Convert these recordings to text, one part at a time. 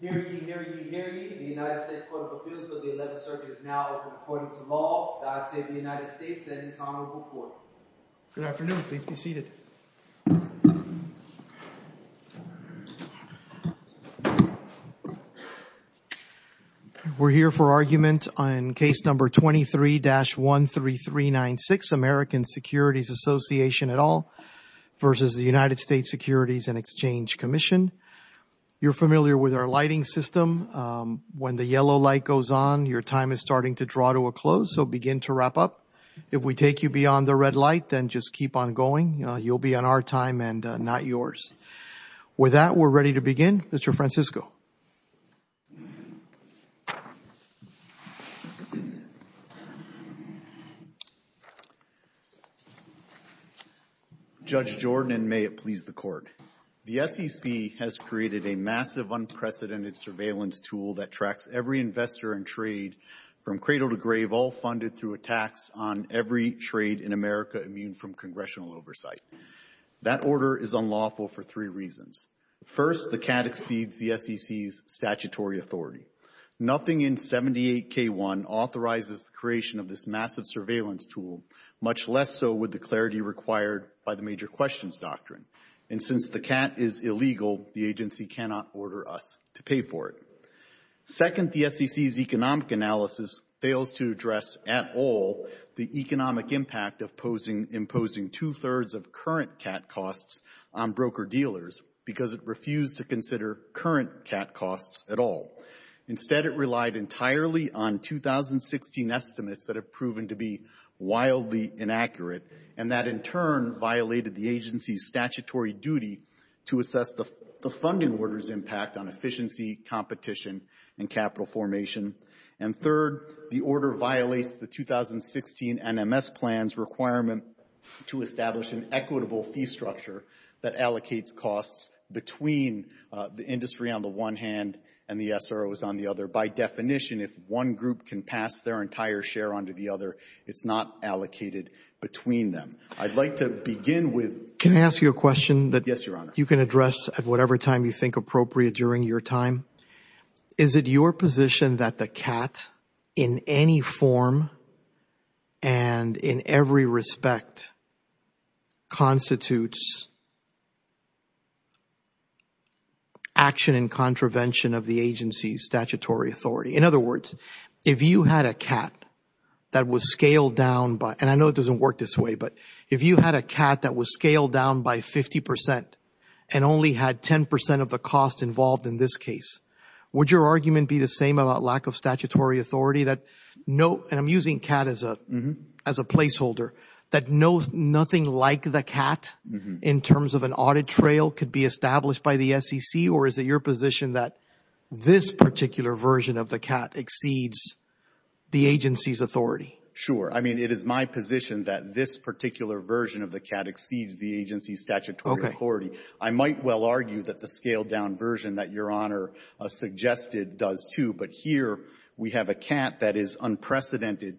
Hearing, hearing, hearing. The United States Court of Appeals for the 11th Circuit is now open according to law. I say to the United States and its Honorable Court. Good afternoon. Please be seated. We're here for argument on Case No. 23-13396, American Securities Association et al. v. United States Securities and Exchange Commission. You're familiar with our lighting system. When the yellow light goes on, your time is starting to draw to a close, so begin to wrap up. If we take you beyond the red light, then just keep on going. You have the floor. You'll be on our time and not yours. With that, we're ready to begin. Mr. Francisco. Judge Jordan, and may it please the Court. The SEC has created a massive unprecedented surveillance tool that tracks every investor in trade from cradle to grave, all funded through a tax on every trade in America immune from congressional oversight. That order is unlawful for three reasons. First, the CAT exceeds the SEC's statutory authority. Nothing in 78K1 authorizes the creation of this massive surveillance tool, much less so with the clarity required by the major questions doctrine. And since the CAT is illegal, the agency cannot order us to pay for it. Second, the SEC's economic analysis fails to address at all the economic impact of imposing two-thirds of current CAT costs on broker-dealers because it refused to consider current CAT costs at all. Instead, it relied entirely on 2016 estimates that have proven to be wildly inaccurate and that, in turn, violated the agency's statutory duty to assess the funding order's impact on efficiency, competition, and profitability. And third, the order violates the 2016 NMS plan's requirement to establish an equitable fee structure that allocates costs between the industry on the one hand and the SROs on the other. By definition, if one group can pass their entire share onto the other, it's not allocated between them. I'd like to begin with – you can address at whatever time you think appropriate during your time. Is it your position that the CAT in any form and in every respect constitutes action in contravention of the agency's statutory authority? In other words, if you had a CAT that was scaled down by – and I know it doesn't work this way, but if you had a CAT that was scaled down by 50 percent and only had 10 percent of the costs involved in this case, would your argument be the same about lack of statutory authority? And I'm using CAT as a placeholder. That nothing like the CAT in terms of an audit trail could be established by the SEC, or is it your position that this particular version of the CAT exceeds the agency's authority? Sure. I mean, it is my position that this particular version of the CAT exceeds the agency's statutory authority. I might well argue that the scaled-down version that Your Honor suggested does too, but here we have a CAT that is unprecedented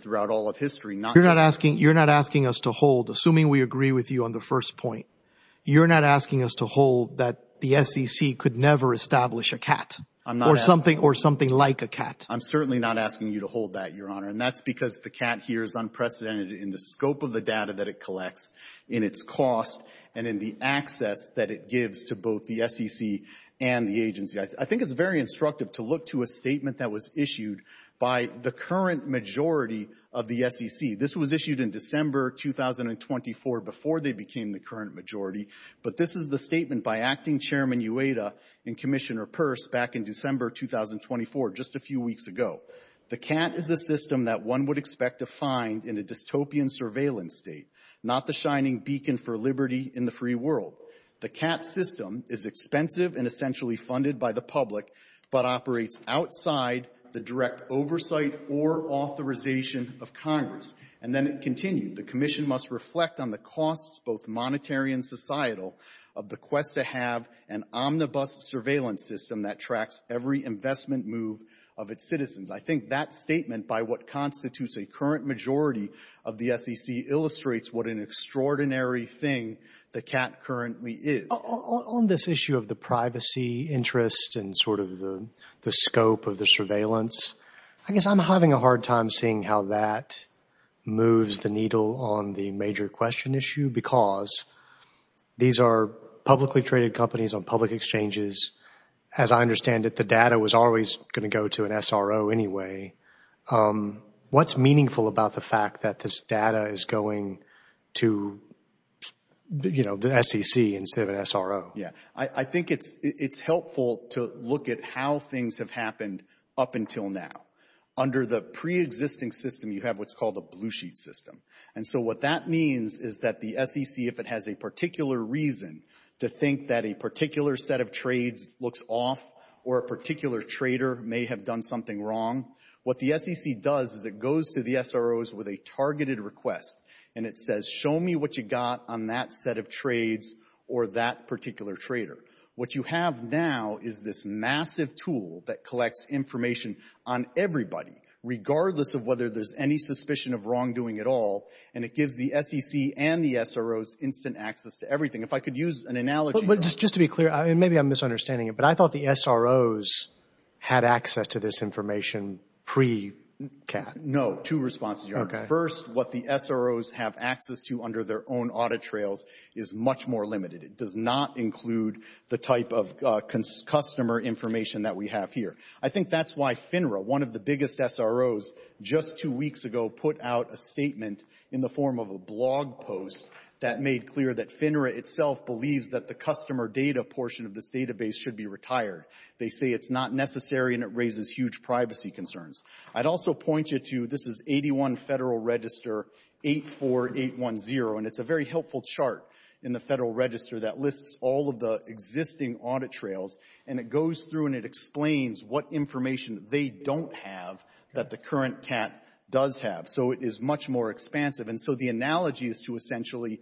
throughout all of history. You're not asking us to hold, assuming we agree with you on the first point. You're not asking us to hold that the SEC could never establish a CAT or something like a CAT. I'm certainly not asking you to hold that, Your Honor, and that's because the CAT here is unprecedented in the scope of the data that it collects, in its cost, and in the access that it gives to both the SEC and the agency. I think it's very instructive to look to a statement that was issued by the current majority of the SEC. This was issued in December 2024 before they became the current majority, but this is the statement by Acting Chairman Ueda and Commissioner Peirce back in December 2024, just a few weeks ago. The CAT is a system that one would expect to find in a dystopian surveillance state, not the shining beacon for liberty in the free world. The CAT system is expensive and essentially funded by the public, but operates outside the direct oversight or authorization of Congress. And then it continued, the commission must reflect on the costs, both monetary and societal, of the quest to have an omnibus surveillance system that tracks every investment move of its citizens. I think that statement by what constitutes a current majority of the SEC illustrates what an extraordinary thing the CAT currently is. On this issue of the privacy interest and sort of the scope of the surveillance, I guess I'm having a hard time seeing how that moves the needle on the major question issue because these are publicly traded companies on public exchanges. As I understand it, the data was always going to go to an SRO anyway. What's meaningful about the fact that this data is going to the SEC instead of an SRO? Yeah. I think it's helpful to look at how things have happened up until now. Under the pre-existing system, you have what's called a blue sheet system. And so what that means is that the SEC, if it has a particular reason to think that a particular set of trades looks off or a particular trader may have done something wrong, what the SEC does is it goes to the SROs with a targeted request and it says, show me what you got on that set of trades or that particular trader. What you have now is this massive tool that collects information on everybody, regardless of whether there's any suspicion of wrongdoing at all. And it gives the SEC and the SROs instant access to everything. If I could use an analogy. But just to be clear, and maybe I'm misunderstanding it, but I thought the SROs had access to this information pre-CAT. No. Two responses, Your Honor. First, what the SROs have access to under their own audit trails is much more limited. It does not include the type of customer information that we have here. I think that's why FINRA, one of the biggest SROs, just two weeks ago put out a statement in the form of a blog post that made clear that FINRA itself believes that the customer data portion of this database should be retired. They say it's not necessary and it raises huge privacy concerns. I'd also point you to, this is 81 Federal Register 84810, and it's a very helpful chart in the Federal Register that lists all of the existing audit trails. And it goes through and it explains what information they don't have that the current CAT does have. So it is much more expansive. And so the analogy is to essentially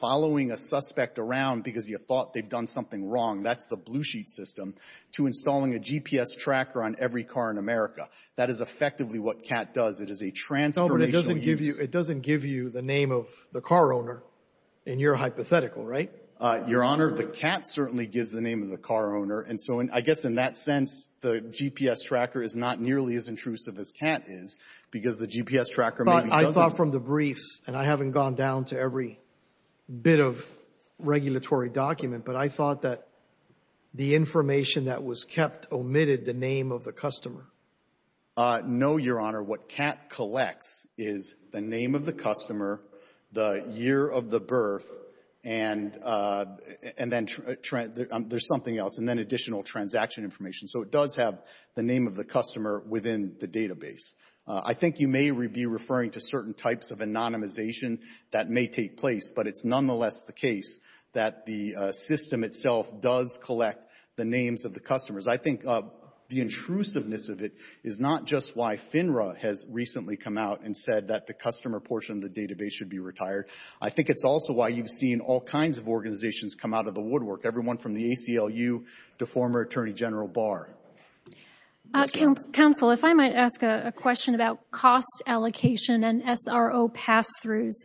following a suspect around because you thought they've done something wrong, that's the blue sheet system, to installing a GPS tracker on every car in America. That is effectively what CAT does. It is a transformational use. It doesn't give you the name of the car owner in your hypothetical, right? Your Honor, the CAT certainly gives the name of the car owner. And so I guess in that sense, the GPS tracker is not nearly as intrusive as CAT is because the GPS tracker maybe doesn't. I saw from the briefs, and I haven't gone down to every bit of regulatory document, but I thought that the information that was kept omitted the name of the customer. No, Your Honor. What CAT collects is the name of the customer, the year of the birth, and then there's something else, and then additional transaction information. So it does have the name of the customer within the database. I think you may be referring to certain types of anonymization that may take place, but it's nonetheless the case that the system itself does collect the names of the customers. I think the intrusiveness of it is not just why FINRA has recently come out and said that the customer portion of the database should be retired. I think it's also why you've seen all kinds of organizations come out of the woodwork, everyone from the ACLU to former Attorney General Barr. Counsel, if I might ask a question about cost allocation and SRO pass-throughs.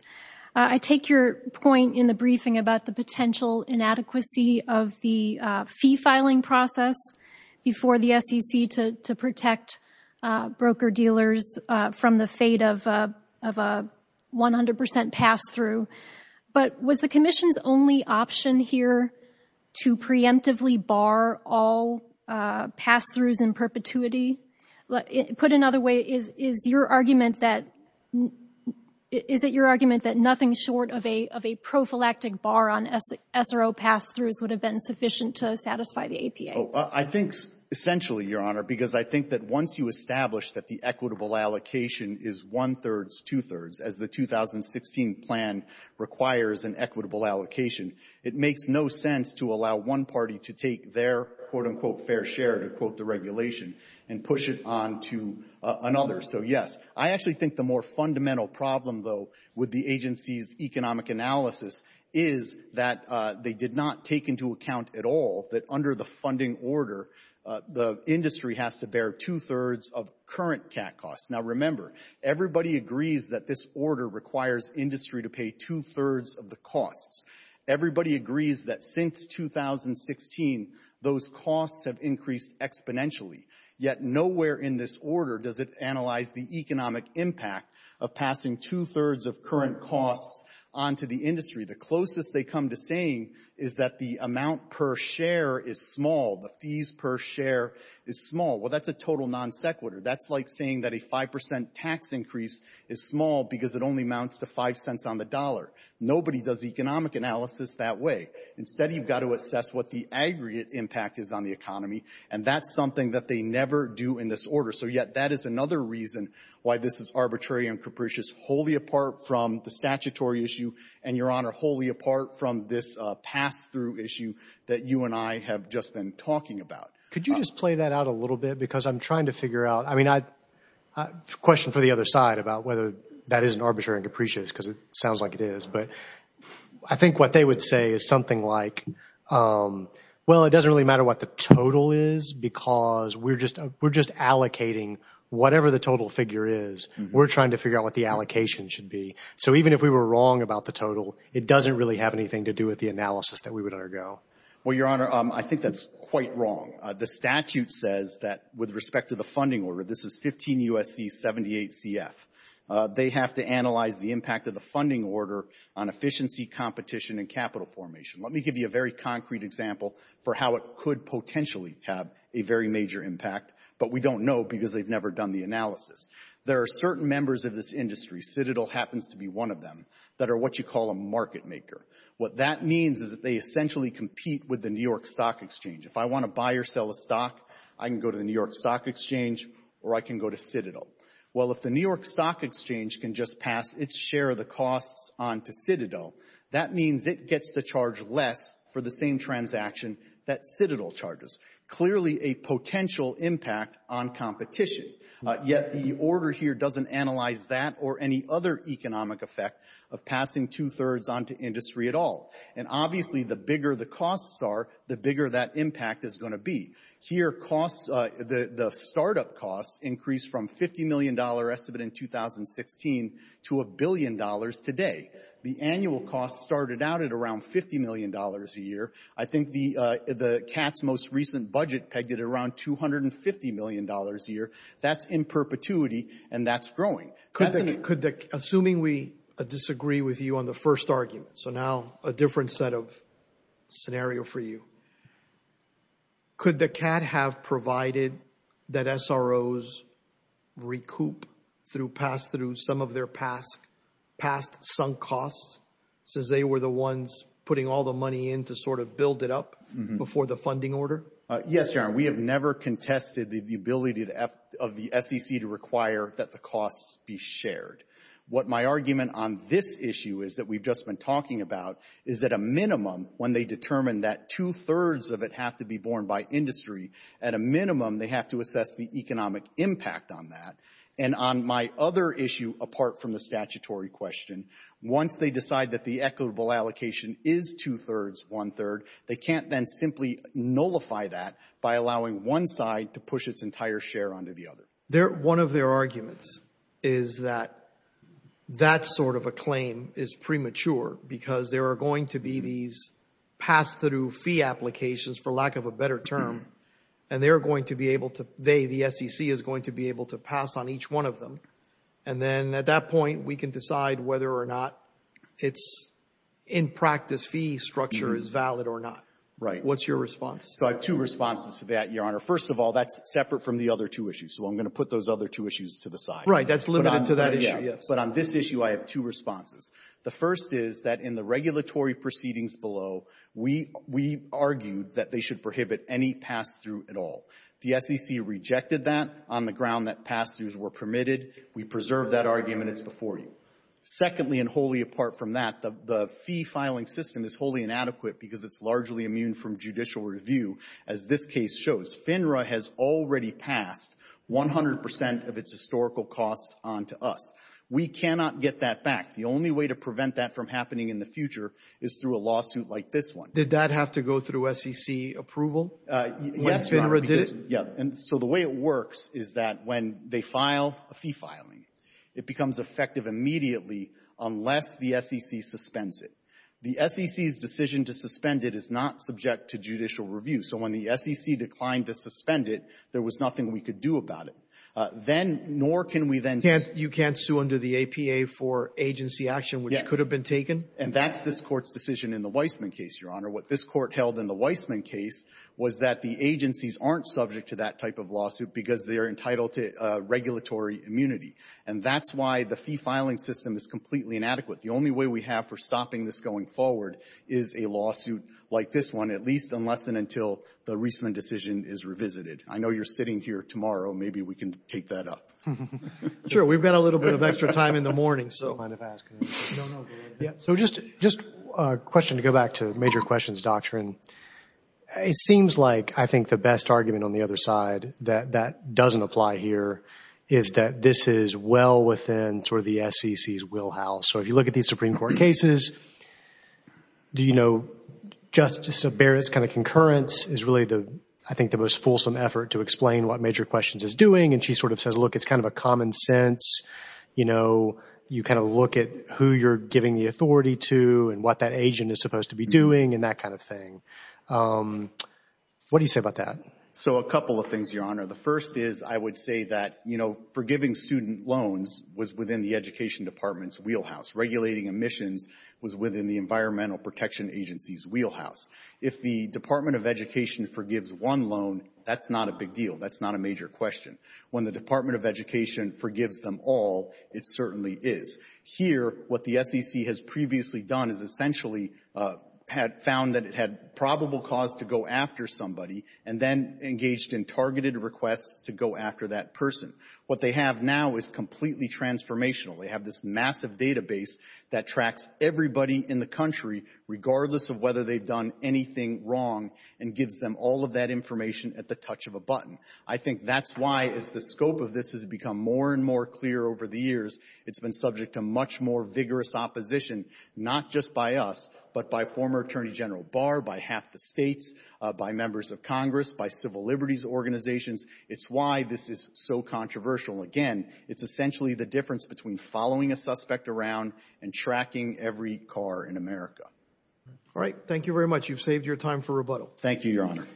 I take your point in the briefing about the potential inadequacy of the fee filing process before the SEC to protect broker-dealers from the fate of a 100 percent pass-through. But was the Commission's only option here to preemptively bar all pass-throughs in perpetuity? Put another way, is it your argument that nothing short of a prophylactic bar on SRO pass-throughs would have been sufficient to satisfy the APA? I think essentially, Your Honor, because I think that once you establish that the equitable allocation is one-thirds, two-thirds, as the 2016 plan requires an equitable allocation, it makes no sense to allow one party to take their, quote-unquote, fair share, to quote the regulation, and push it on to another. So, yes, I actually think the more fundamental problem, though, with the agency's economic analysis is that they did not take into account at all that under the funding order, the industry has to bear two-thirds of current CAT costs. Now, remember, everybody agrees that this order requires industry to pay two-thirds of the costs. Everybody agrees that since 2016, those costs have increased exponentially. Yet nowhere in this order does it analyze the economic impact of passing two-thirds of current costs on to the industry. The closest they come to saying is that the amount per share is small, the fees per share is small. Well, that's a total non sequitur. That's like saying that a 5 percent tax increase is small because it only amounts to 5 cents on the dollar. Nobody does economic analysis that way. Instead, you've got to assess what the aggregate impact is on the economy, and that's something that they never do in this order. So, yet, that is another reason why this is arbitrary and capricious, wholly apart from the statutory issue, and, Your Honor, wholly apart from this pass-through issue that you and I have just been talking about. Could you just play that out a little bit? Because I'm trying to figure out – I mean, question for the other side about whether that isn't arbitrary and capricious, because it sounds like it is, but I think what they would say is something like, well, it doesn't really matter what the total is because we're just allocating whatever the total figure is. We're trying to figure out what the allocation should be. So even if we were wrong about the total, it doesn't really have anything to do with the analysis that we would undergo. Well, Your Honor, I think that's quite wrong. The statute says that with respect to the funding order, this is 15 U.S.C. 78 CF. They have to analyze the impact of the funding order on efficiency, competition, and capital formation. Let me give you a very concrete example for how it could potentially have a very major impact, but we don't know because they've never done the analysis. There are certain members of this industry, Citadel happens to be one of them, that are what you call a market maker. What that means is that they essentially compete with the New York Stock Exchange. If I want to buy or sell a stock, I can go to the New York Stock Exchange or I can go to Citadel. Well, if the New York Stock Exchange can just pass its share of the costs on to Citadel, that means it gets to charge less for the same transaction that Citadel charges, clearly a potential impact on competition. Yet the order here doesn't analyze that or any other economic effect of passing two-thirds on to industry at all. And obviously, the bigger the costs are, the bigger that impact is going to be. Here, the startup costs increased from $50 million estimate in 2016 to $1 billion today. The annual costs started out at around $50 million a year. I think the CAT's most recent budget pegged at around $250 million a year. That's in perpetuity and that's growing. Assuming we disagree with you on the first argument, so now a different set of scenario for you. Could the CAT have provided that SROs recoup through some of their past sunk costs since they were the ones putting all the money in to sort of build it up before the funding order? Yes, Your Honor. We have never contested the ability of the SEC to require that the costs be shared. What my argument on this issue is that we've just been talking about is that a minimum, when they determine that two-thirds of it have to be borne by industry, at a minimum they have to assess the economic impact on that. And on my other issue, apart from the statutory question, once they decide that the equitable allocation is two-thirds, one-third, they can't then simply nullify that by allowing one side to push its entire share onto the other. One of their arguments is that that sort of a claim is premature because there are going to be these pass-through fee applications, for lack of a better term, and they are going to be able to they, the SEC, is going to be able to pass on each one of them. And then at that point, we can decide whether or not its in-practice fee structure is valid or not. What's your response? So I have two responses to that, Your Honor. First of all, that's separate from the other two issues. So I'm going to put those other two issues to the side. Right. That's limited to that issue, yes. But on this issue, I have two responses. The first is that in the regulatory proceedings below, we argued that they should prohibit any pass-through at all. The SEC rejected that on the ground that pass-throughs were permitted. We preserved that argument. It's before you. Secondly, and wholly apart from that, the fee-filing system is wholly inadequate because it's largely immune from judicial review, as this case shows. FINRA has already passed 100 percent of its historical costs onto us. We cannot get that back. The only way to prevent that from happening in the future is through a lawsuit like this one. Did that have to go through SEC approval? Yes, Your Honor. FINRA did it? Yeah. And so the way it works is that when they file a fee filing, it becomes effective immediately unless the SEC suspends it. The SEC's decision to suspend it is not subject to judicial review. So when the SEC declined to suspend it, there was nothing we could do about it. You can't sue under the APA for agency action which could have been taken? And that's this Court's decision in the Weissman case, Your Honor. What this Court held in the Weissman case was that the agencies aren't subject to that type of lawsuit because they are entitled to regulatory immunity. And that's why the fee-filing system is completely inadequate. The only way we have for stopping this going forward is a lawsuit like this one, at least unless and until the Reisman decision is revisited. I know you're sitting here tomorrow. Maybe we can take that up. We've got a little bit of extra time in the morning. So just a question to go back to major questions doctrine. It seems like I think the best argument on the other side that that doesn't apply here is that this is well within sort of the SEC's wheelhouse. So if you look at these Supreme Court cases, do you know Justice Barrett's kind of concurrence is really the, I think, the most fulsome effort to explain what major questions is doing? And she sort of says, look, it's kind of a common sense. You know, you kind of look at who you're giving the authority to and what that agent is supposed to be doing and that kind of thing. What do you say about that? So a couple of things, Your Honor. The first is I would say that, you know, forgiving student loans was within the Education Department's wheelhouse. Regulating emissions was within the Environmental Protection Agency's wheelhouse. If the Department of Education forgives one loan, that's not a big deal. That's not a major question. When the Department of Education forgives them all, it certainly is. Here, what the SEC has previously done is essentially had found that it had probable cause to go after somebody and then engaged in targeted requests to go after that person. What they have now is completely transformational. They have this massive database that tracks everybody in the country, regardless of whether they've done anything wrong, and gives them all of that information at the touch of a button. I think that's why, as the scope of this has become more and more clear over the years, it's been subject to much more vigorous opposition, not just by us, but by former Attorney General Barr, by half the states, by members of Congress, by civil liberties organizations. It's why this is so controversial. Again, it's essentially the difference between following a suspect around and tracking every car in America. All right, thank you very much. You've saved your time for rebuttal. Thank you, Your Honor.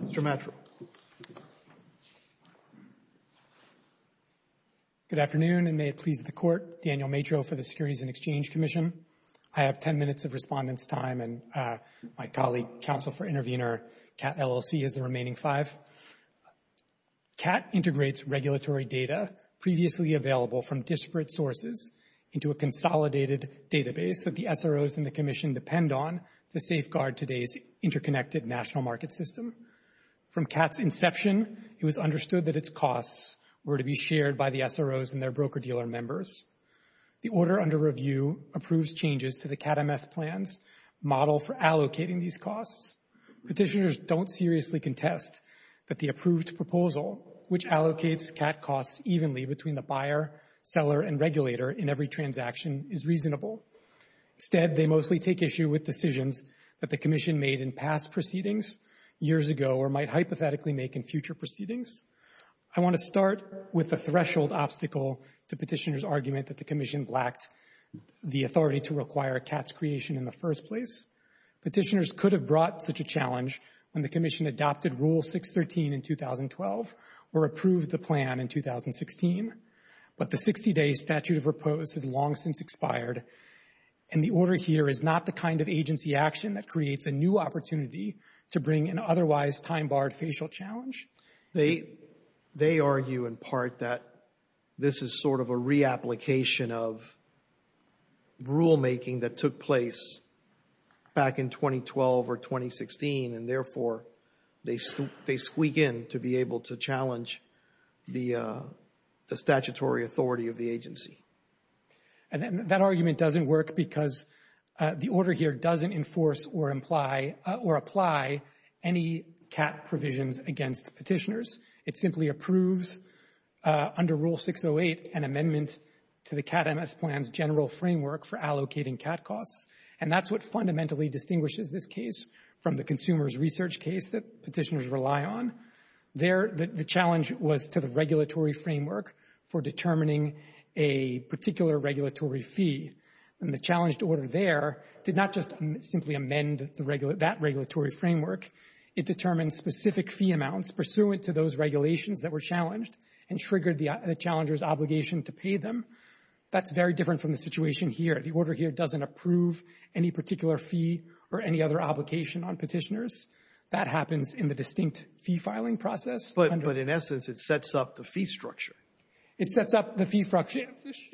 Mr. Matro. Good afternoon, and may it please the Court, Daniel Matro for the Securities and Exchange Commission. I have ten minutes of respondents' time, and my colleague, Counsel for Intervener, Kat LLC, has the remaining five. Kat integrates regulatory data previously available from disparate sources into a consolidated database that the SROs and the Commission depend on to safeguard today's interconnected national market system. From Kat's inception, it was understood that its costs were to be shared by the SROs and their broker-dealer members. The order under review approves changes to the Kat MS plan's model for allocating these costs. Petitioners don't seriously contest that the approved proposal, which allocates Kat costs evenly between the buyer, seller, and regulator in every transaction, is reasonable. Instead, they mostly take issue with decisions that the Commission made in past proceedings years ago or might hypothetically make in future proceedings. I want to start with the threshold obstacle to petitioners' argument that the Commission lacked the authority to require Kat's creation in the first place. Petitioners could have brought such a challenge when the Commission adopted Rule 613 in 2012 or approved the plan in 2016. But the 60-day statute of repose has long since expired, and the order here is not the kind of agency action that creates a new opportunity to bring an otherwise time-barred facial challenge. They argue in part that this is sort of a reapplication of rulemaking that took place back in 2012 or 2016, and therefore they squeak in to be able to challenge the statutory authority of the agency. And that argument doesn't work because the order here doesn't enforce or imply or apply any Kat provisions against petitioners. It simply approves, under Rule 608, an amendment to the Kat MS plan's general framework for allocating Kat costs. And that's what fundamentally distinguishes this case from the consumer's research case that petitioners rely on. There, the challenge was to the regulatory framework for determining a particular regulatory fee. And the challenged order there did not just simply amend that regulatory framework. It determined specific fee amounts pursuant to those regulations that were challenged and triggered the challenger's obligation to pay them. That's very different from the situation here. The order here doesn't approve any particular fee or any other obligation on petitioners. That happens in the distinct fee filing process. But in essence, it sets up the fee structure. It sets up the fee structure.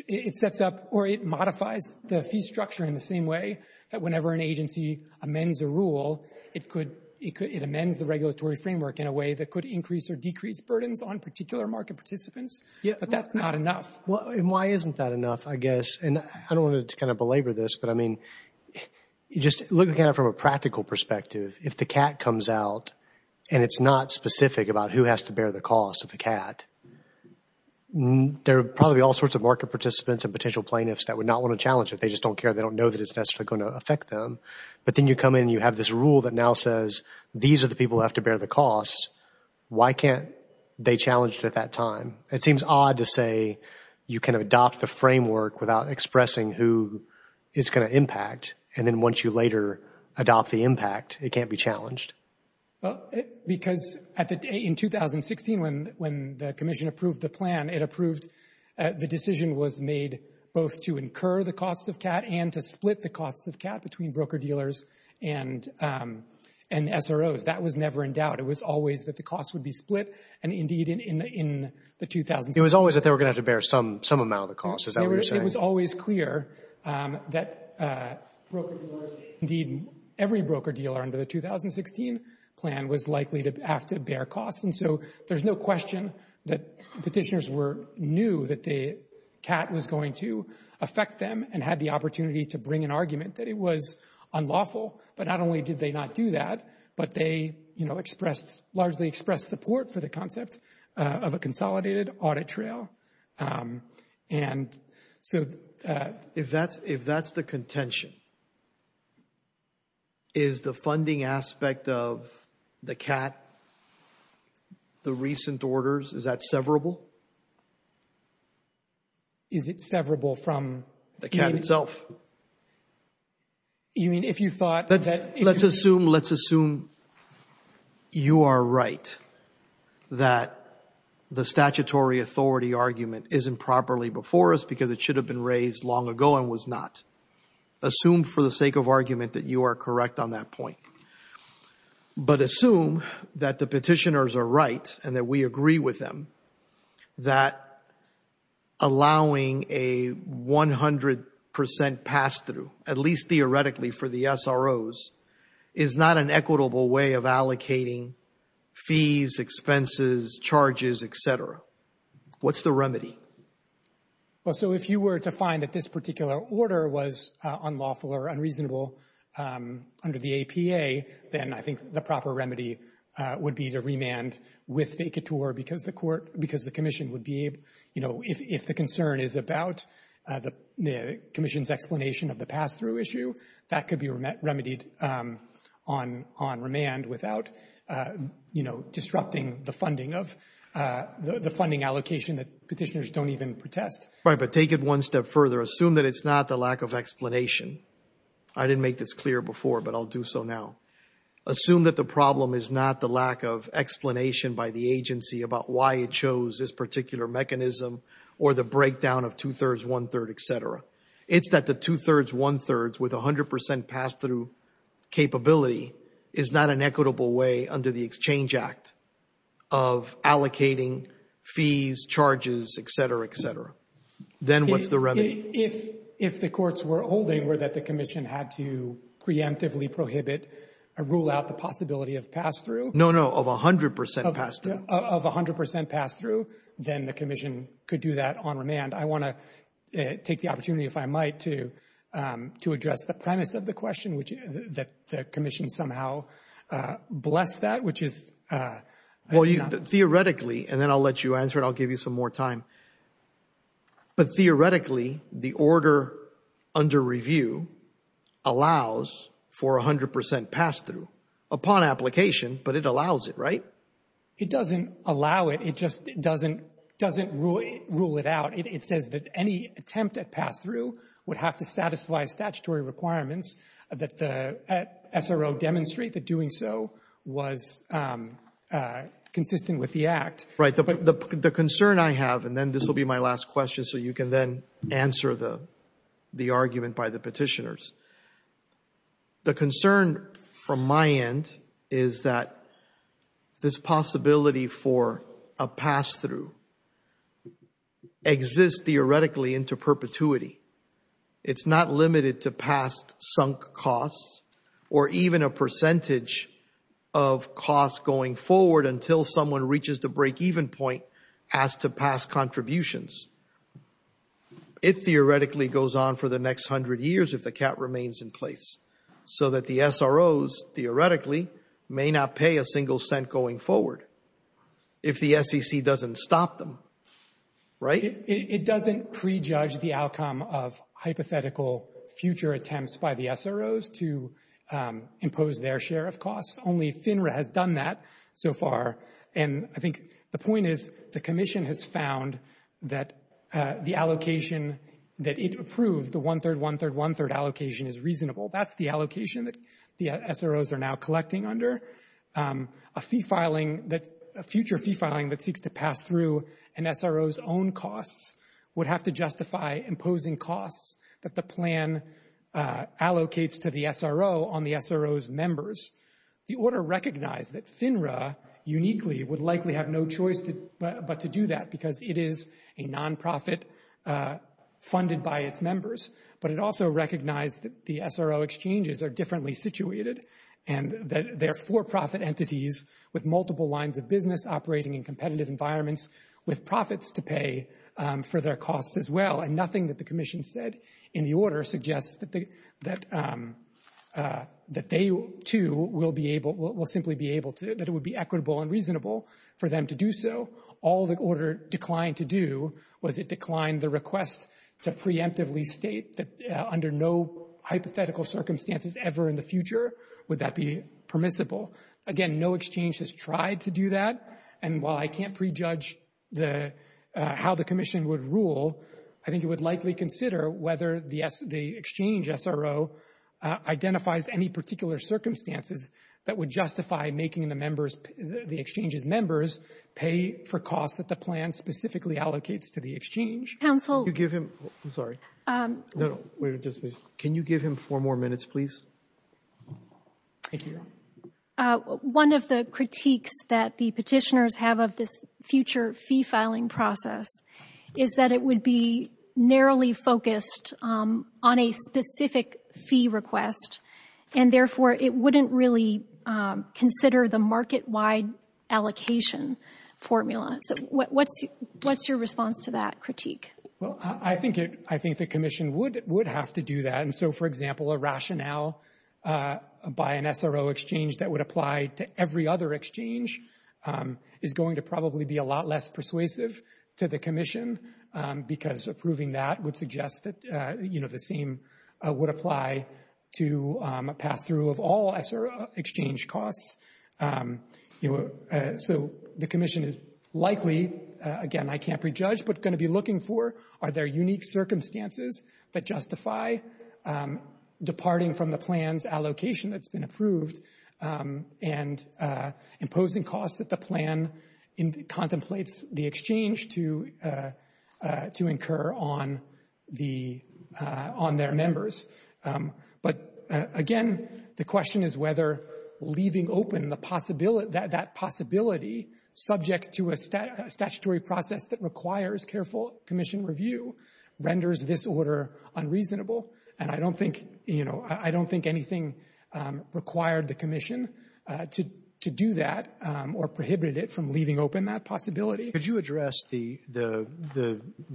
It sets up or it modifies the fee structure in the same way that whenever an agency amends a rule, it amends the regulatory framework in a way that could increase or decrease burdens on particular market participants. But that's not enough. And why isn't that enough, I guess? And I don't want to belabor this, but, I mean, just looking at it from a practical perspective, if the Kat comes out and it's not specific about who has to bear the cost of the Kat, there are probably all sorts of market participants and potential plaintiffs that would not want to challenge it. They just don't care. They don't know that it's necessarily going to affect them. But then you come in and you have this rule that now says, these are the people who have to bear the cost. Why can't they challenge it at that time? It seems odd to say you can adopt the framework without expressing who is going to impact, and then once you later adopt the impact, it can't be challenged. Because in 2016, when the Commission approved the plan, it approved the decision was made both to incur the cost of Kat and to split the cost of Kat between broker-dealers and SROs. That was never in doubt. It was always that the cost would be split, and indeed in the 2016... It was always that they were going to have to bear some amount of the cost. Is that what you're saying? It was always clear that broker-dealers, and indeed every broker-dealer under the 2016 plan, was likely to have to bear costs. And so there's no question that petitioners knew that Kat was going to affect them and had the opportunity to bring an argument that it was unlawful. But not only did they not do that, but they largely expressed support for the concept of a consolidated audit trail. And so... If that's the contention, is the funding aspect of the Kat, the recent orders, is that severable? Is it severable from... The Kat itself. You mean if you thought that... Let's assume you are right, that the statutory authority argument isn't properly before us because it should have been raised long ago and was not. Assume for the sake of argument that you are correct on that point. But assume that the petitioners are right and that we agree with them that allowing a 100% pass-through, at least theoretically for the SROs, is not an equitable way of allocating fees, expenses, charges, et cetera. What's the remedy? Well, so if you were to find that this particular order was unlawful or unreasonable under the APA, then I think the proper remedy would be to remand with the ICATOR because the commission would be able... If the concern is about the commission's explanation of the pass-through issue, that could be remedied on remand without disrupting the funding allocation that petitioners don't even protest. Right, but take it one step further. Assume that it's not the lack of explanation. I didn't make this clear before, but I'll do so now. Assume that the problem is not the lack of explanation by the agency about why it shows this particular mechanism or the breakdown of two-thirds, one-third, et cetera. It's that the two-thirds, one-thirds with 100% pass-through capability is not an equitable way under the Exchange Act of allocating fees, charges, et cetera, et cetera. Then what's the remedy? If the courts were holding that the commission had to preemptively prohibit a rule out the possibility of pass-through... No, no, of 100% pass-through. ...of 100% pass-through, then the commission could do that on remand. I want to take the opportunity, if I might, to address the premise of the question, which is that the commission somehow blessed that, which is... Well, theoretically, and then I'll let you answer it. I'll give you some more time. But theoretically, the order under review allows for 100% pass-through upon application, but it allows it, right? It doesn't allow it. It just doesn't rule it out. It says that any attempt at pass-through would have to satisfy statutory requirements that the SRO demonstrate that doing so was consistent with the Act. Right. The concern I have, and then this will be my last question so you can then answer the argument by the petitioners. The concern from my end is that this possibility for a pass-through exists theoretically into perpetuity. It's not limited to past sunk costs or even a percentage of costs going forward until someone reaches the break-even point as to past contributions. It theoretically goes on for the next 100 years if the cap remains in place, so that the SROs theoretically may not pay a single cent going forward if the SEC doesn't stop them, right? It doesn't prejudge the outcome of hypothetical future attempts by the SROs to impose their share of costs. Only FINRA has done that so far. And I think the point is the commission has found that the allocation that it approved, the one-third, one-third, one-third allocation is reasonable. That's the allocation that the SROs are now collecting under. A future fee filing that seeks to pass through an SRO's own costs would have to justify imposing costs that the plan allocates to the SRO on the SRO's members. The order recognized that FINRA uniquely would likely have no choice but to do that because it is a nonprofit funded by its members. But it also recognized that the SRO exchanges are differently situated and that they're for-profit entities with multiple lines of business operating in competitive environments with profits to pay for their costs as well. And nothing that the commission said in the order suggests that they, too, will simply be able to, that it would be equitable and reasonable for them to do so. All the order declined to do was it declined the request to preemptively state that under no hypothetical circumstances ever in the future would that be permissible. Again, no exchange has tried to do that. And while I can't prejudge how the commission would rule, I think it would likely consider whether the exchange SRO identifies any particular circumstances that would justify making the members, the exchange's members, pay for costs that the plan specifically allocates to the exchange. Counsel. Can you give him, I'm sorry. No, no. Can you give him four more minutes, please? Thank you. One of the critiques that the petitioners have of this future fee filing process is that it would be narrowly focused on a specific fee request and, therefore, it wouldn't really consider the market-wide allocation formula. So what's your response to that critique? Well, I think the commission would have to do that. And so, for example, a rationale by an SRO exchange that would apply to every other exchange is going to probably be a lot less persuasive to the commission because approving that would suggest that, you know, the same would apply to a pass-through of all SRO exchange costs. So the commission is likely, again, I can't prejudge, but going to be looking for are there unique circumstances that justify departing from the plan's allocation that's been approved and imposing costs that the plan contemplates the exchange to incur on their members. But, again, the question is whether leaving open that possibility, subject to a statutory process that requires careful commission review, renders this order unreasonable. And I don't think anything required the commission to do that or prohibit it from leaving open that possibility. Could you address the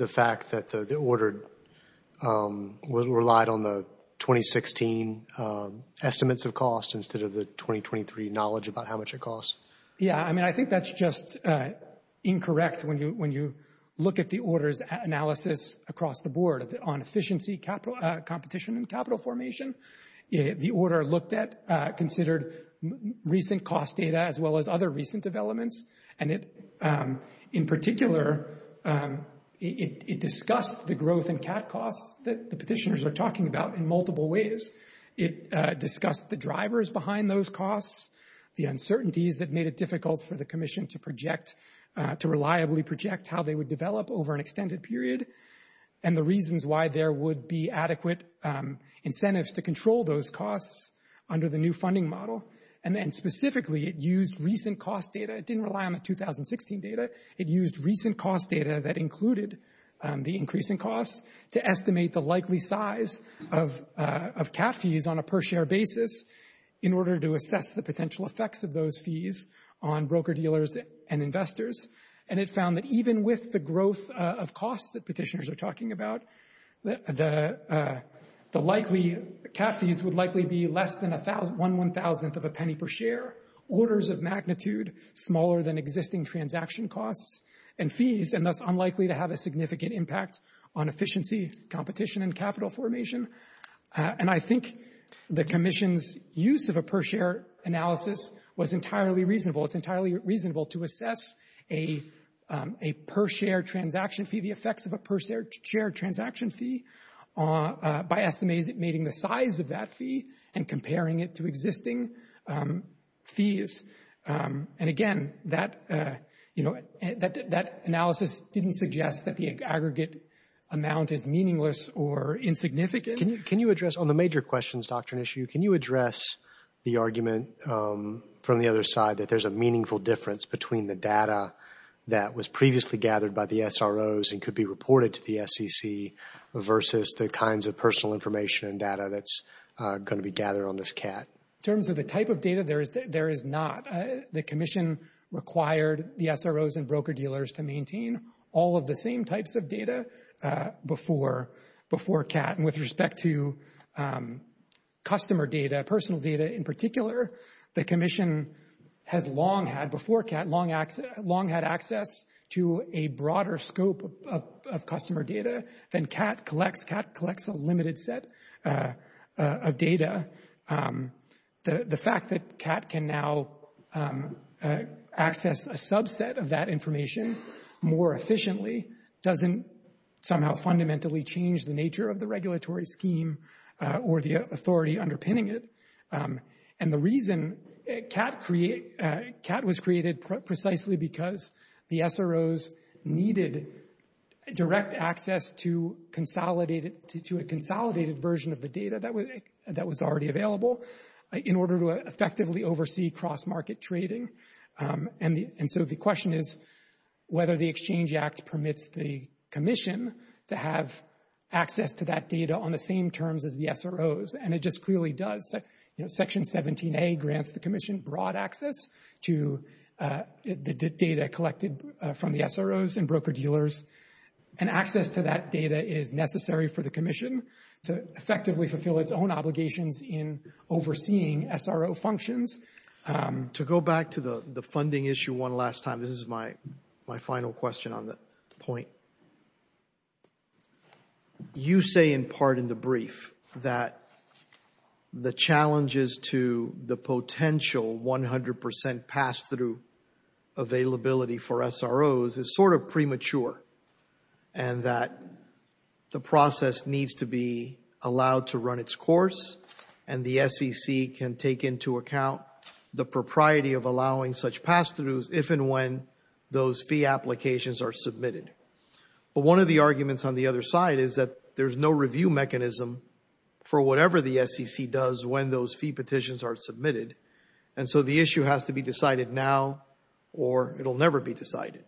fact that the order relied on the 2016 estimates of cost instead of the 2023 knowledge about how much it costs? Yeah, I mean, I think that's just incorrect when you look at the order's analysis across the board on efficiency, competition, and capital formation. The order looked at considered recent cost data as well as other recent developments, and in particular, it discussed the growth in CAD costs that the petitioners are talking about in multiple ways. It discussed the drivers behind those costs, the uncertainties that made it difficult for the commission to project, to reliably project how they would develop over an extended period and the reasons why there would be adequate incentives to control those costs under the new funding model. And then specifically, it used recent cost data. It didn't rely on the 2016 data. It used recent cost data that included the increase in costs to estimate the likely size of CAD fees on a per-share basis in order to assess the potential effects of those fees on broker-dealers and investors. And it found that even with the growth of costs that petitioners are talking about, the likely CAD fees would likely be less than 1,000th of a penny per share, orders of magnitude smaller than existing transaction costs and fees, and thus unlikely to have a significant impact on efficiency, competition, and capital formation. And I think the commission's use of a per-share analysis was entirely reasonable. It's entirely reasonable to assess a per-share transaction fee, the effects of a per-share transaction fee, by estimating the size of that fee and comparing it to existing fees. And again, that analysis didn't suggest that the aggregate amount is meaningless or insignificant. Can you address, on the major questions, Dr. Nishiu, can you address the argument from the other side that there's a meaningful difference between the data that was previously gathered by the SROs and could be reported to the SEC versus the kinds of personal information and data that's going to be gathered on this CAD? In terms of the type of data, there is not. The commission required the SROs and broker-dealers to maintain all of the same types of data before CAD. And with respect to customer data, personal data in particular, the commission has long had, before CAD, long had access to a broader scope of customer data than CAD collects. CAD collects a limited set of data. The fact that CAD can now access a subset of that information more efficiently doesn't somehow fundamentally change the nature of the regulatory scheme or the authority underpinning it. And the reason CAD was created precisely because the SROs needed direct access to a consolidated version of the data that was already available in order to effectively oversee cross-market trading. And so the question is whether the Exchange Act permits the commission to have access to that data on the same terms as the SROs. And it just clearly does. Section 17A grants the commission broad access to the data collected from the SROs and broker-dealers. And access to that data is necessary for the commission to effectively fulfill its own obligations in overseeing SRO functions. To go back to the funding issue one last time, this is my final question on the point. You say in part in the brief that the challenges to the potential 100% pass-through availability for SROs is sort of premature and that the process needs to be allowed to run its course and the SEC can take into account the propriety of allowing such pass-throughs if and when those fee applications are submitted. But one of the arguments on the other side is that there's no review mechanism for whatever the SEC does when those fee petitions are submitted. And so the issue has to be decided now or it will never be decided.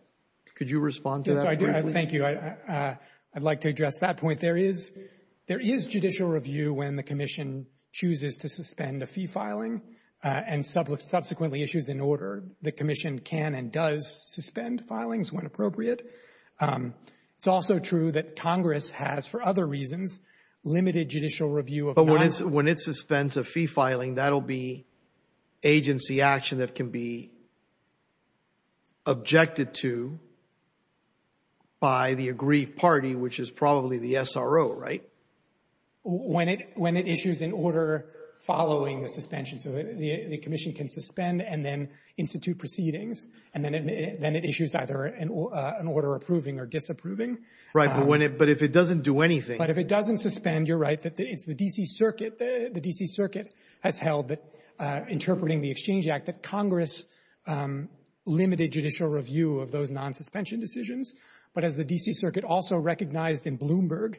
Could you respond to that briefly? Yes, I do. Thank you. I'd like to address that point. There is judicial review when the commission chooses to suspend a fee filing and subsequently issues an order. The commission can and does suspend filings when appropriate. It's also true that Congress has, for other reasons, limited judicial review of non- But when it suspends a fee filing, that will be agency action that can be objected to by the aggrieved party, which is probably the SRO, right? When it issues an order following the suspension. So the commission can suspend and then institute proceedings and then it issues either an order approving or disapproving. Right, but if it doesn't do anything. But if it doesn't suspend, you're right. It's the D.C. Circuit. The D.C. Circuit has held that, interpreting the Exchange Act, that Congress limited judicial review of those non-suspension decisions. But as the D.C. Circuit also recognized in Bloomberg,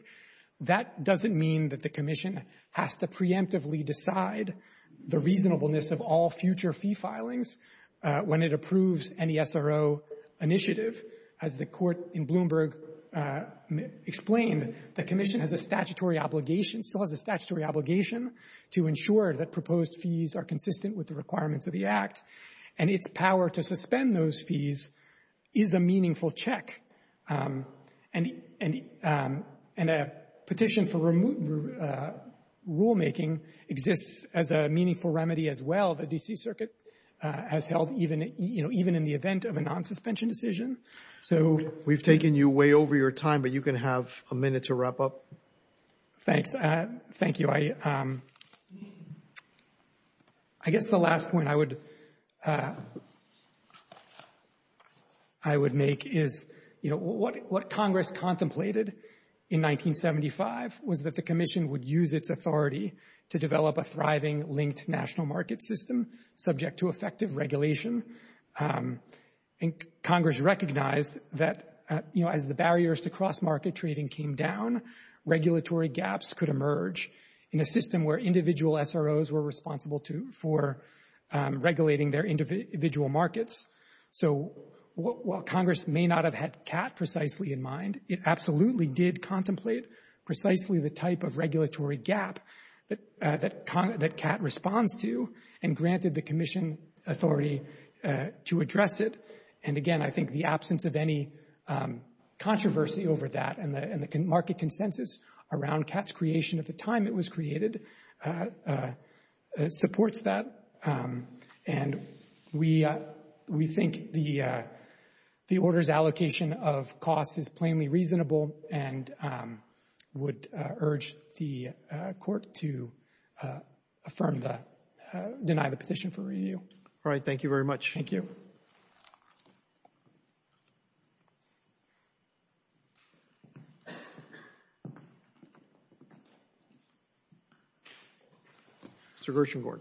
that doesn't mean that the commission has to preemptively decide the reasonableness of all future fee filings when it approves any SRO initiative. As the court in Bloomberg explained, the commission has a statutory obligation, still has a statutory obligation, to ensure that proposed fees are consistent with the requirements of the Act. And its power to suspend those fees is a meaningful check. And a petition for rulemaking exists as a meaningful remedy as well. The D.C. Circuit has held even in the event of a non-suspension decision. We've taken you way over your time, but you can have a minute to wrap up. Thanks. Thank you. So I guess the last point I would make is, you know, what Congress contemplated in 1975 was that the commission would use its authority to develop a thriving linked national market system subject to effective regulation. And Congress recognized that, you know, as the barriers to cross-market trading came down, regulatory gaps could emerge in a system where individual SROs were responsible for regulating their individual markets. So while Congress may not have had CAT precisely in mind, it absolutely did contemplate precisely the type of regulatory gap that CAT responds to and granted the commission authority to address it. And again, I think the absence of any controversy over that and the market consensus around CAT's creation at the time it was created supports that. And we think the order's allocation of costs is plainly reasonable and would urge the Court to affirm that, deny the petition for review. All right. Thank you very much. Thank you. Mr. Gershengorn.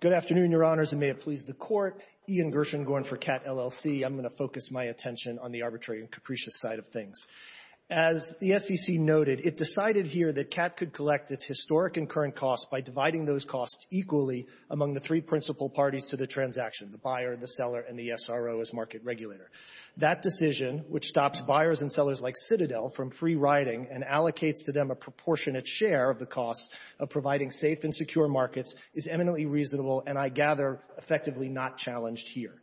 Good afternoon, Your Honors, and may it please the Court. Ian Gershengorn for CAT, LLC. I'm going to focus my attention on the arbitrary and capricious side of things. As the SEC noted, it decided here that CAT could collect its historic and current costs by dividing those costs equally among the three principal parties to the transaction, the buyer, the seller, and the SRO as market regulator. That decision, which stops buyers and sellers like Citadel from free-riding and allocates to them a proportionate share of the costs of providing safe and secure markets, is eminently reasonable and, I gather, effectively not challenged here.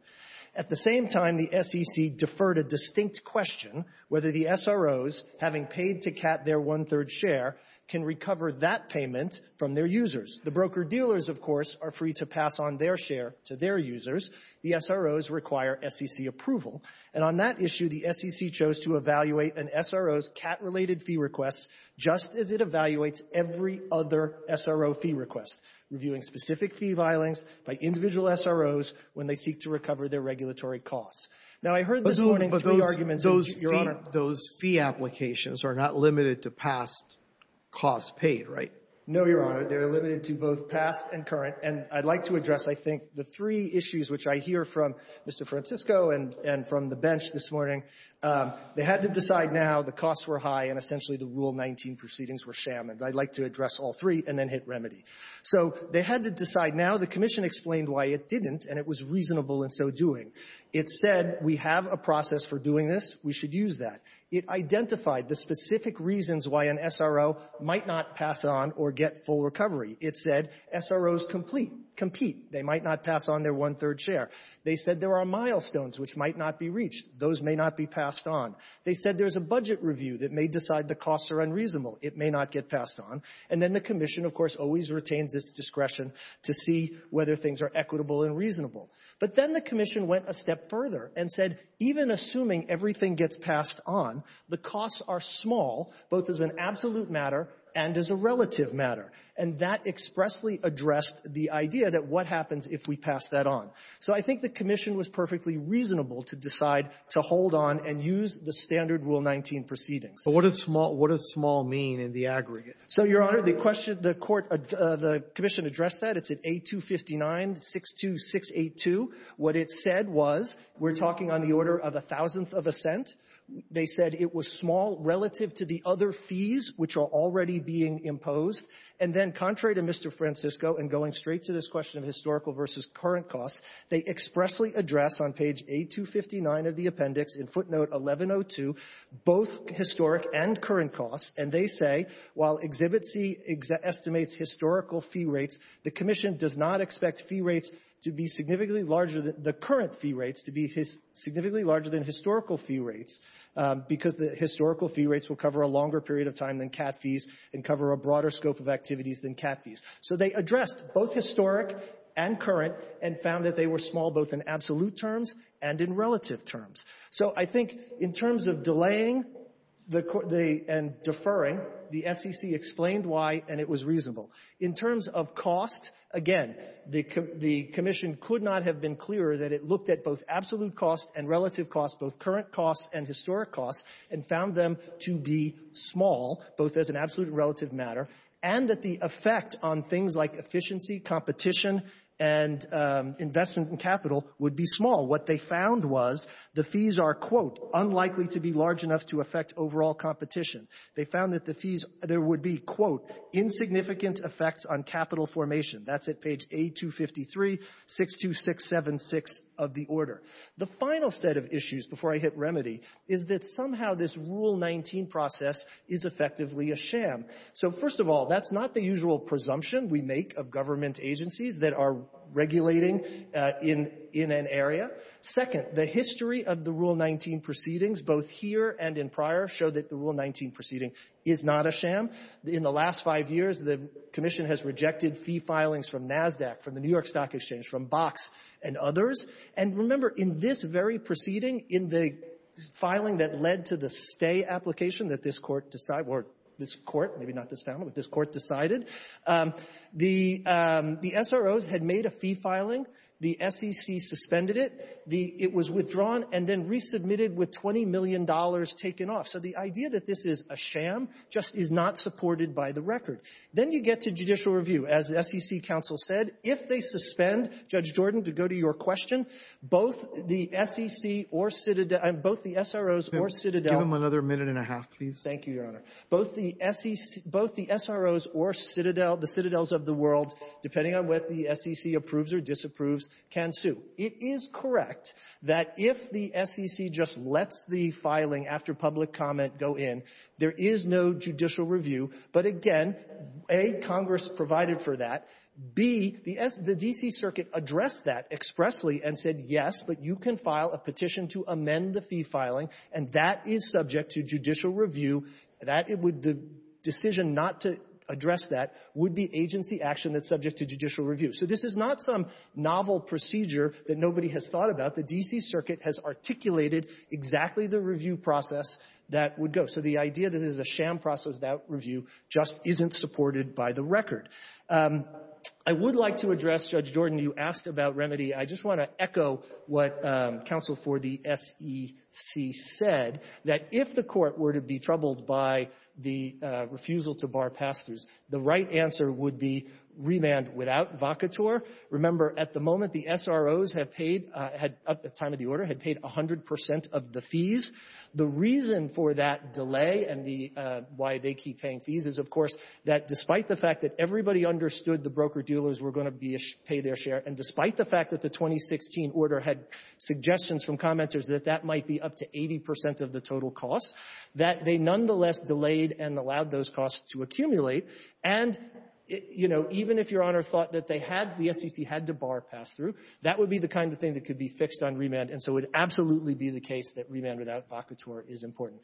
At the same time, the SEC deferred a distinct question whether the SROs, having paid to CAT their one-third share, can recover that payment from their users. The broker-dealers, of course, are free to pass on their share to their users. The SROs require SEC approval. And on that issue, the SEC chose to evaluate an SRO's CAT-related fee request just as it evaluates every other SRO fee request, reviewing specific fee filings by individual SROs when they seek to recover their regulatory costs. Now, I heard this morning three arguments that you ---- I heard this morning three arguments that you made that the regulations are not limited to past costs paid, right? No, Your Honor. They're limited to both past and current. And I'd like to address, I think, the three issues which I hear from Mr. Francisco and from the bench this morning. They had to decide now the costs were high and essentially the Rule 19 proceedings were shammed. I'd like to address all three and then hit remedy. So they had to decide now. The Commission explained why it didn't, and it was reasonable in so doing. It said we have a process for doing this. We should use that. It identified the specific reasons why an SRO might not pass on or get full recovery. It said SROs complete, compete. They might not pass on their one-third share. They said there are milestones which might not be reached. Those may not be passed on. They said there's a budget review that may decide the costs are unreasonable. It may not get passed on. And then the Commission, of course, always retains its discretion to see whether things are equitable and reasonable. But then the Commission went a step further and said even assuming everything gets passed on, the costs are small, both as an absolute matter and as a relative matter. And that expressly addressed the idea that what happens if we pass that on. So I think the Commission was perfectly reasonable to decide to hold on and use the standard Rule 19 proceedings. So what does small mean in the aggregate? So, Your Honor, the question, the court or the Commission addressed that. It's at A259-62682. What it said was we're talking on the order of a thousandth of a cent. They said it was small relative to the other fees which are already being imposed. And then contrary to Mr. Francisco and going straight to this question of historical versus current costs, they expressly address on page A259 of the appendix in footnote 1102 both historic and current historical fee rates. The Commission does not expect fee rates to be significantly larger than the current fee rates to be significantly larger than historical fee rates because the historical fee rates will cover a longer period of time than cat fees and cover a broader scope of activities than cat fees. So they addressed both historic and current and found that they were small both in absolute terms and in relative terms. So I think in terms of delaying and deferring, the SEC explained why and it was reasonable. In terms of cost, again, the Commission could not have been clearer that it looked at both absolute costs and relative costs, both current costs and historic costs, and found them to be small, both as an absolute and relative matter, and that the effect on things like efficiency, competition, and investment in capital would be small. What they found was the fees are, quote, unlikely to be large enough to affect overall competition. They found that the fees, there would be, quote, insignificant effects on capital formation. That's at page A253, 62676 of the order. The final set of issues before I hit remedy is that somehow this Rule 19 process is effectively a sham. So first of all, that's not the usual presumption we make of government agencies that are regulating in an area. Second, the history of the Rule 19 proceedings, both here and in prior, show that the Rule 19 proceeding is not a sham. In the last five years, the Commission has rejected fee filings from NASDAQ, from the New York Stock Exchange, from Box and others. And remember, in this very proceeding, in the filing that led to the stay application that this court decided, or this court, maybe not this family, but this court decided, the SROs had made a fee filing. The SEC suspended it. It was withdrawn and then resubmitted with $20 million taken off. So the idea that this is a sham just is not supported by the record. Then you get to judicial review. As the SEC counsel said, if they suspend, Judge Jordan, to go to your question, both the SEC or Citadel — both the SROs or Citadel — Robertson, give him another minute and a half, please. Thank you, Your Honor. Both the SEC — both the SROs or Citadel, the Citadels of the world, depending on whether the SEC approves or disapproves, can sue. It is correct that if the SEC just lets the filing after public comment go in, there is no judicial review. But again, A, Congress provided for that. B, the S — the D.C. Circuit addressed that expressly and said, yes, but you can file a petition to amend the fee filing, and that is subject to judicial review, that it would — the decision not to address that would be agency action that's subject to judicial review. So this is not some novel procedure that nobody has thought about. The D.C. Circuit has articulated exactly the review process that would go. So the idea that it is a sham process, that review, just isn't supported by the record. I would like to address, Judge Jordan, you asked about remedy. I just want to echo what counsel for the SEC said, that if the Court were to be troubled by the refusal to bar pass-throughs, the right answer would be remand without vacatur. Remember, at the moment, the SROs have paid — at the time of the order, had paid 100 percent of the fees. The reason for that delay and the — why they keep paying fees is, of course, that despite the fact that everybody understood the broker-dealers were going to be — pay their share, and despite the fact that the 2016 order had suggestions from commenters that that might be up to 80 percent of the total cost, that they nonetheless delayed and allowed those costs to accumulate. And, you know, even if Your Honor thought that they had — the SEC had to bar pass-through, that would be the kind of thing that could be fixed on remand. And so it would absolutely be the case that remand without vacatur is important.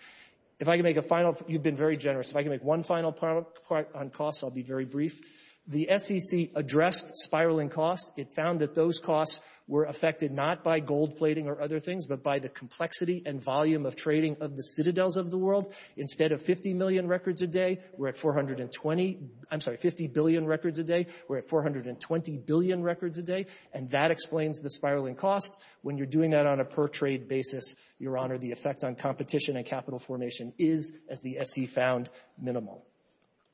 If I can make a final — you've been very generous. If I can make one final point on costs, I'll be very brief. The SEC addressed spiraling costs. It found that those costs were affected not by gold plating or other things, but by the complexity and volume of trading of the citadels of the world. Instead of 50 million records a day, we're at 420 — I'm sorry, 50 billion records a day. We're at 420 billion records a day. And that explains the spiraling cost. When you're doing that on a per-trade basis, Your Honor, the effect on competition and capital formation is, as the SEC found, minimal.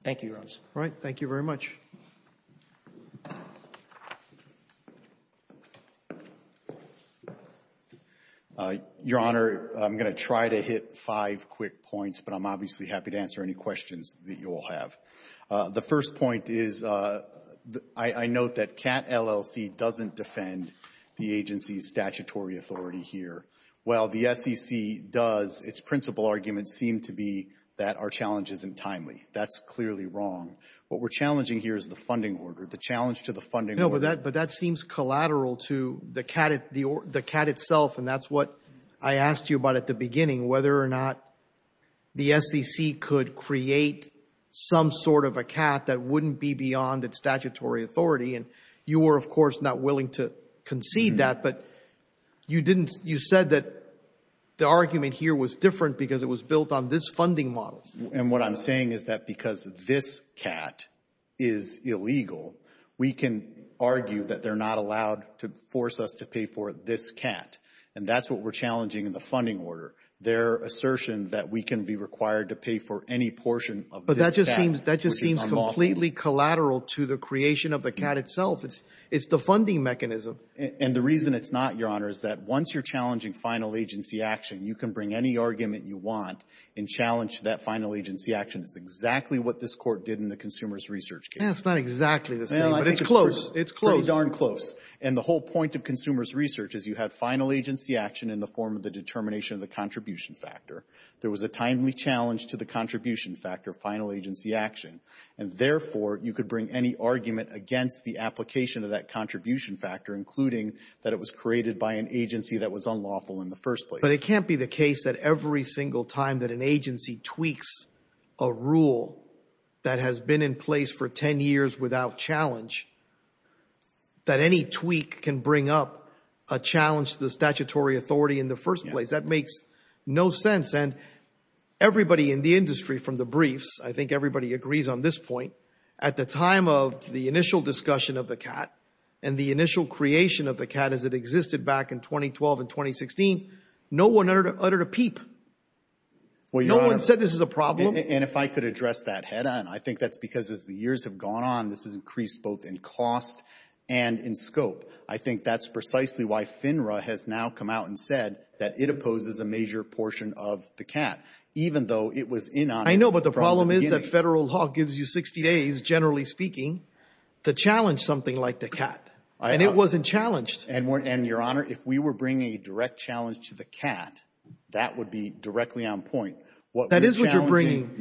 Thank you, Your Honors. All right. Thank you very much. Your Honor, I'm going to try to hit five quick points, but I'm obviously happy to answer any questions that you all have. The first point is, I note that CAT LLC doesn't defend the agency's statutory authority here. While the SEC does, its principal arguments seem to be that our challenge isn't timely. That's clearly wrong. What we're challenging here is the funding order, the challenge to the funding order. No, but that seems collateral to the CAT itself, and that's what I asked you about at the beginning, whether or not the SEC could create some sort of a CAT that wouldn't be beyond its statutory authority. And you were, of course, not willing to concede that, but you didn't — you said that the argument here was different because it was built on this funding model. And what I'm saying is that because this CAT is illegal, we can argue that they're not allowed to force us to pay for this CAT. And that's what we're challenging in the case. Their assertion that we can be required to pay for any portion of this CAT, But that just seems completely collateral to the creation of the CAT itself. It's the funding mechanism. And the reason it's not, Your Honor, is that once you're challenging final agency action, you can bring any argument you want and challenge that final agency action. It's exactly what this Court did in the consumers' research case. Yeah, it's not exactly the same, but it's close. It's close. It's pretty darn close. And the whole point of consumers' research is you have final contribution factor. There was a timely challenge to the contribution factor of final agency action. And therefore, you could bring any argument against the application of that contribution factor, including that it was created by an agency that was unlawful in the first place. But it can't be the case that every single time that an agency tweaks a rule that has been in place for 10 years without challenge, that any tweak can bring up a challenge to the statutory authority in the first place. That makes no sense. And everybody in the industry, from the briefs, I think everybody agrees on this point, at the time of the initial discussion of the CAT and the initial creation of the CAT as it existed back in 2012 and 2016, no one uttered a peep. No one said this is a problem. And if I could address that, Hedda, and I think that's because as the years have gone on, this has increased both in cost and in scope. I think that's precisely why FINRA has now come out and said that it opposes a major portion of the CAT, even though it was in on it from the beginning. I know, but the problem is that federal law gives you 60 days, generally speaking, to challenge something like the CAT, and it wasn't challenged. And, Your Honor, if we were bringing a direct challenge to the CAT, that would be directly on point. That is what you're bringing.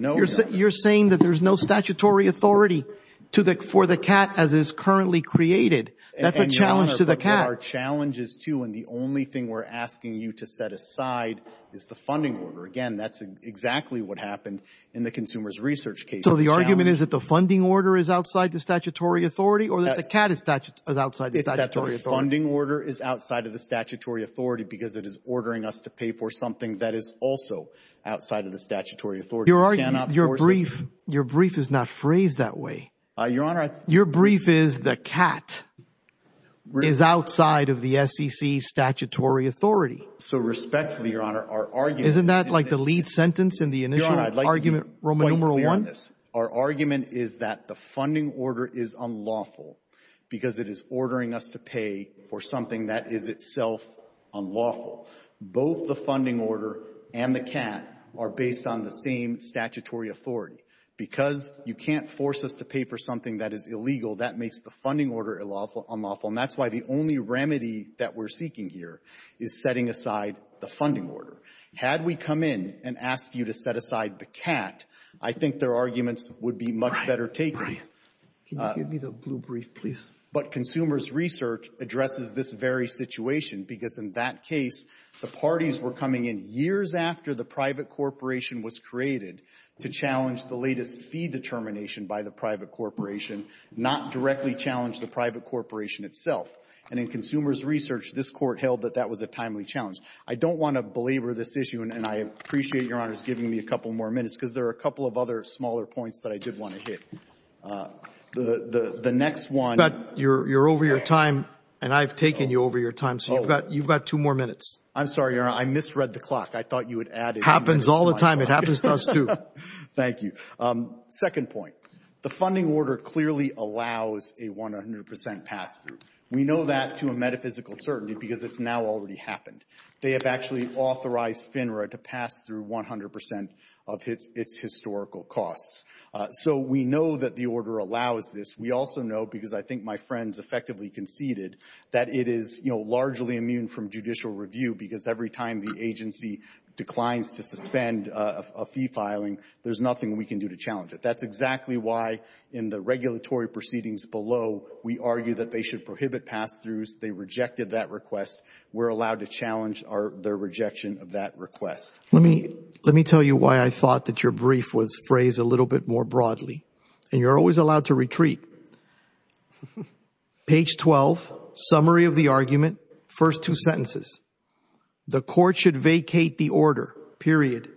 You're saying that there's no statutory authority for the CAT as is currently created. That's a challenge to the CAT. And, Your Honor, there are challenges, too, and the only thing we're asking you to set aside is the funding order. Again, that's exactly what happened in the consumers' research case. So the argument is that the funding order is outside the statutory authority or that the CAT is outside the statutory authority? It's that the funding order is outside of the statutory authority because it is ordering us to pay for something that is also outside of the statutory authority. You're arguing, your brief, your brief is not phrased that way. Your Honor, your brief is the CAT is outside of the SEC's statutory authority. So respectfully, Your Honor, our argument... Isn't that like the lead sentence in the initial argument, Roman numeral one? Your Honor, I'd like to be quite clear on this. Our argument is that the funding order is unlawful because it is ordering us to pay for something that is itself unlawful. Both the funding order and the CAT are based on the same statutory authority. Because you can't force us to pay for something that is illegal, that makes the funding order unlawful. And that's why the only remedy that we're seeking here is setting aside the funding order. Had we come in and asked you to set aside the CAT, I think their arguments would be much better taken. Can you give me the blue brief, please? But consumers' research addresses this very situation because in that case, the parties were coming in years after the private corporation was created to challenge the latest fee determination by the private corporation, not directly challenge the private corporation itself. And in consumers' research, this Court held that that was a timely challenge. I don't want to belabor this issue, and I appreciate Your Honor's giving me a couple more minutes because there are a couple of other smaller points that I did want to hit. The next one... But you're over your time, and I've taken you over your time, so you've got two more minutes. I'm sorry, Your Honor. I misread the clock. I thought you would add... It happens all the time. It happens to us, too. Thank you. Second point. The funding order clearly allows a 100 percent pass-through. We know that to a metaphysical certainty because it's now already happened. They have actually authorized FINRA to pass through 100 percent of its historical costs. So we know that the order allows this. We also know because I think my friends effectively conceded that it is, you know, largely immune from judicial review because every time the agency declines to suspend a fee filing, there's nothing we can do to challenge it. That's exactly why in the regulatory proceedings below, we argue that they should prohibit pass-throughs. They rejected that request. We're allowed to challenge their rejection of that request. Let me tell you why I thought that your brief was phrased a little bit more broadly, and you're always allowed to retreat. Page 12, summary of the argument, first two sentences. The court should vacate the order, period.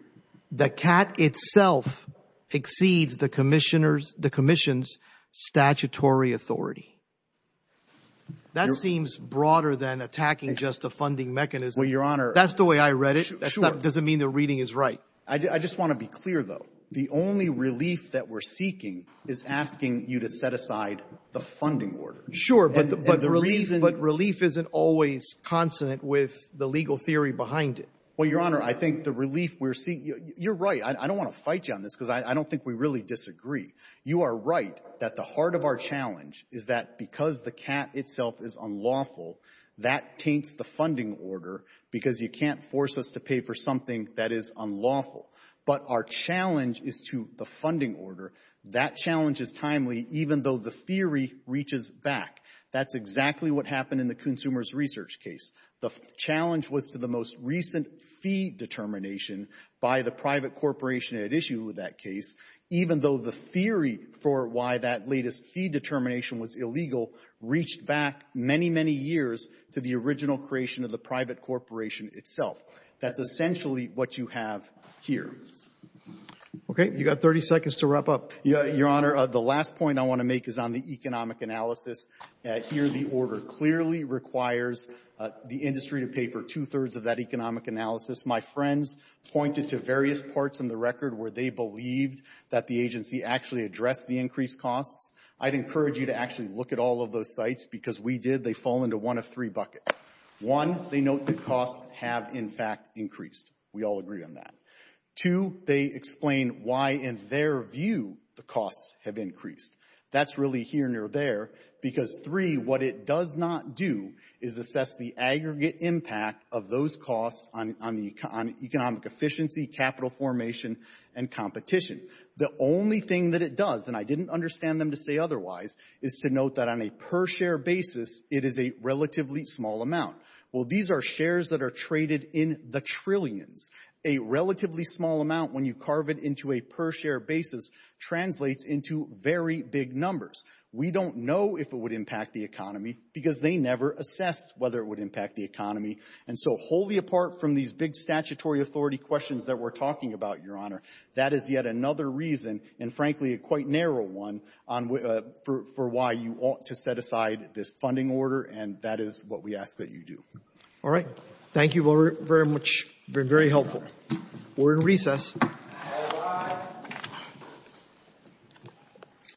The cat itself exceeds the commission's statutory authority. That seems broader than attacking just a funding mechanism. Well, your Honor... That's the way I read it. Sure. That doesn't mean the reading is right. I just want to be clear, though. The only relief that we're seeking is asking you to set aside the funding order. Sure, but the reason... But relief isn't always consonant with the legal theory behind it. Well, your Honor, I think the relief we're seeking... You're right. I don't want to fight you on this because I don't think we really disagree. You are right that the heart of our challenge is that because the cat itself is unlawful, that taints the funding order because you can't force us to pay for something that is unlawful. But our challenge is to the funding order. That challenge is timely even though the theory reaches back. That's exactly what happened in the consumers' research case. The challenge was to the most recent fee determination by the private corporation at issue with that case, even though the theory for why that latest fee determination was illegal reached back many, many years to the original creation of the private corporation itself. That's essentially what you have here. You've got 30 seconds to wrap up. Your Honor, the last point I want to make is on the economic analysis. Here, the order clearly requires the industry to pay for two-thirds of that economic analysis. My friends pointed to various parts in the record where they believed that the agency actually addressed the increased costs. I'd encourage you to actually look at all of those sites because we did. They fall into one of three buckets. One, they note that costs have, in fact, increased. We all agree on that. Two, they explain why, in their view, the costs have increased. That's really here near there because, three, what it does not do is assess the aggregate impact of those costs on economic efficiency, capital formation, and competition. The only thing that it does, and I didn't understand them to say otherwise, is to note that on a per-share basis, it is a relatively small amount. Well, these are shares that are traded in the trillions. A relatively small amount, when you carve it into a per-share basis, translates into very big numbers. We don't know if it would impact the economy because they never assessed whether it would impact the economy. And so wholly apart from these big statutory authority questions that we're talking about, Your Honor, that is yet another reason, and frankly, a quite narrow one, for why you ought to set aside this funding order, and that is what we ask that you do. All right. Thank you very much. Very helpful. We're in recess.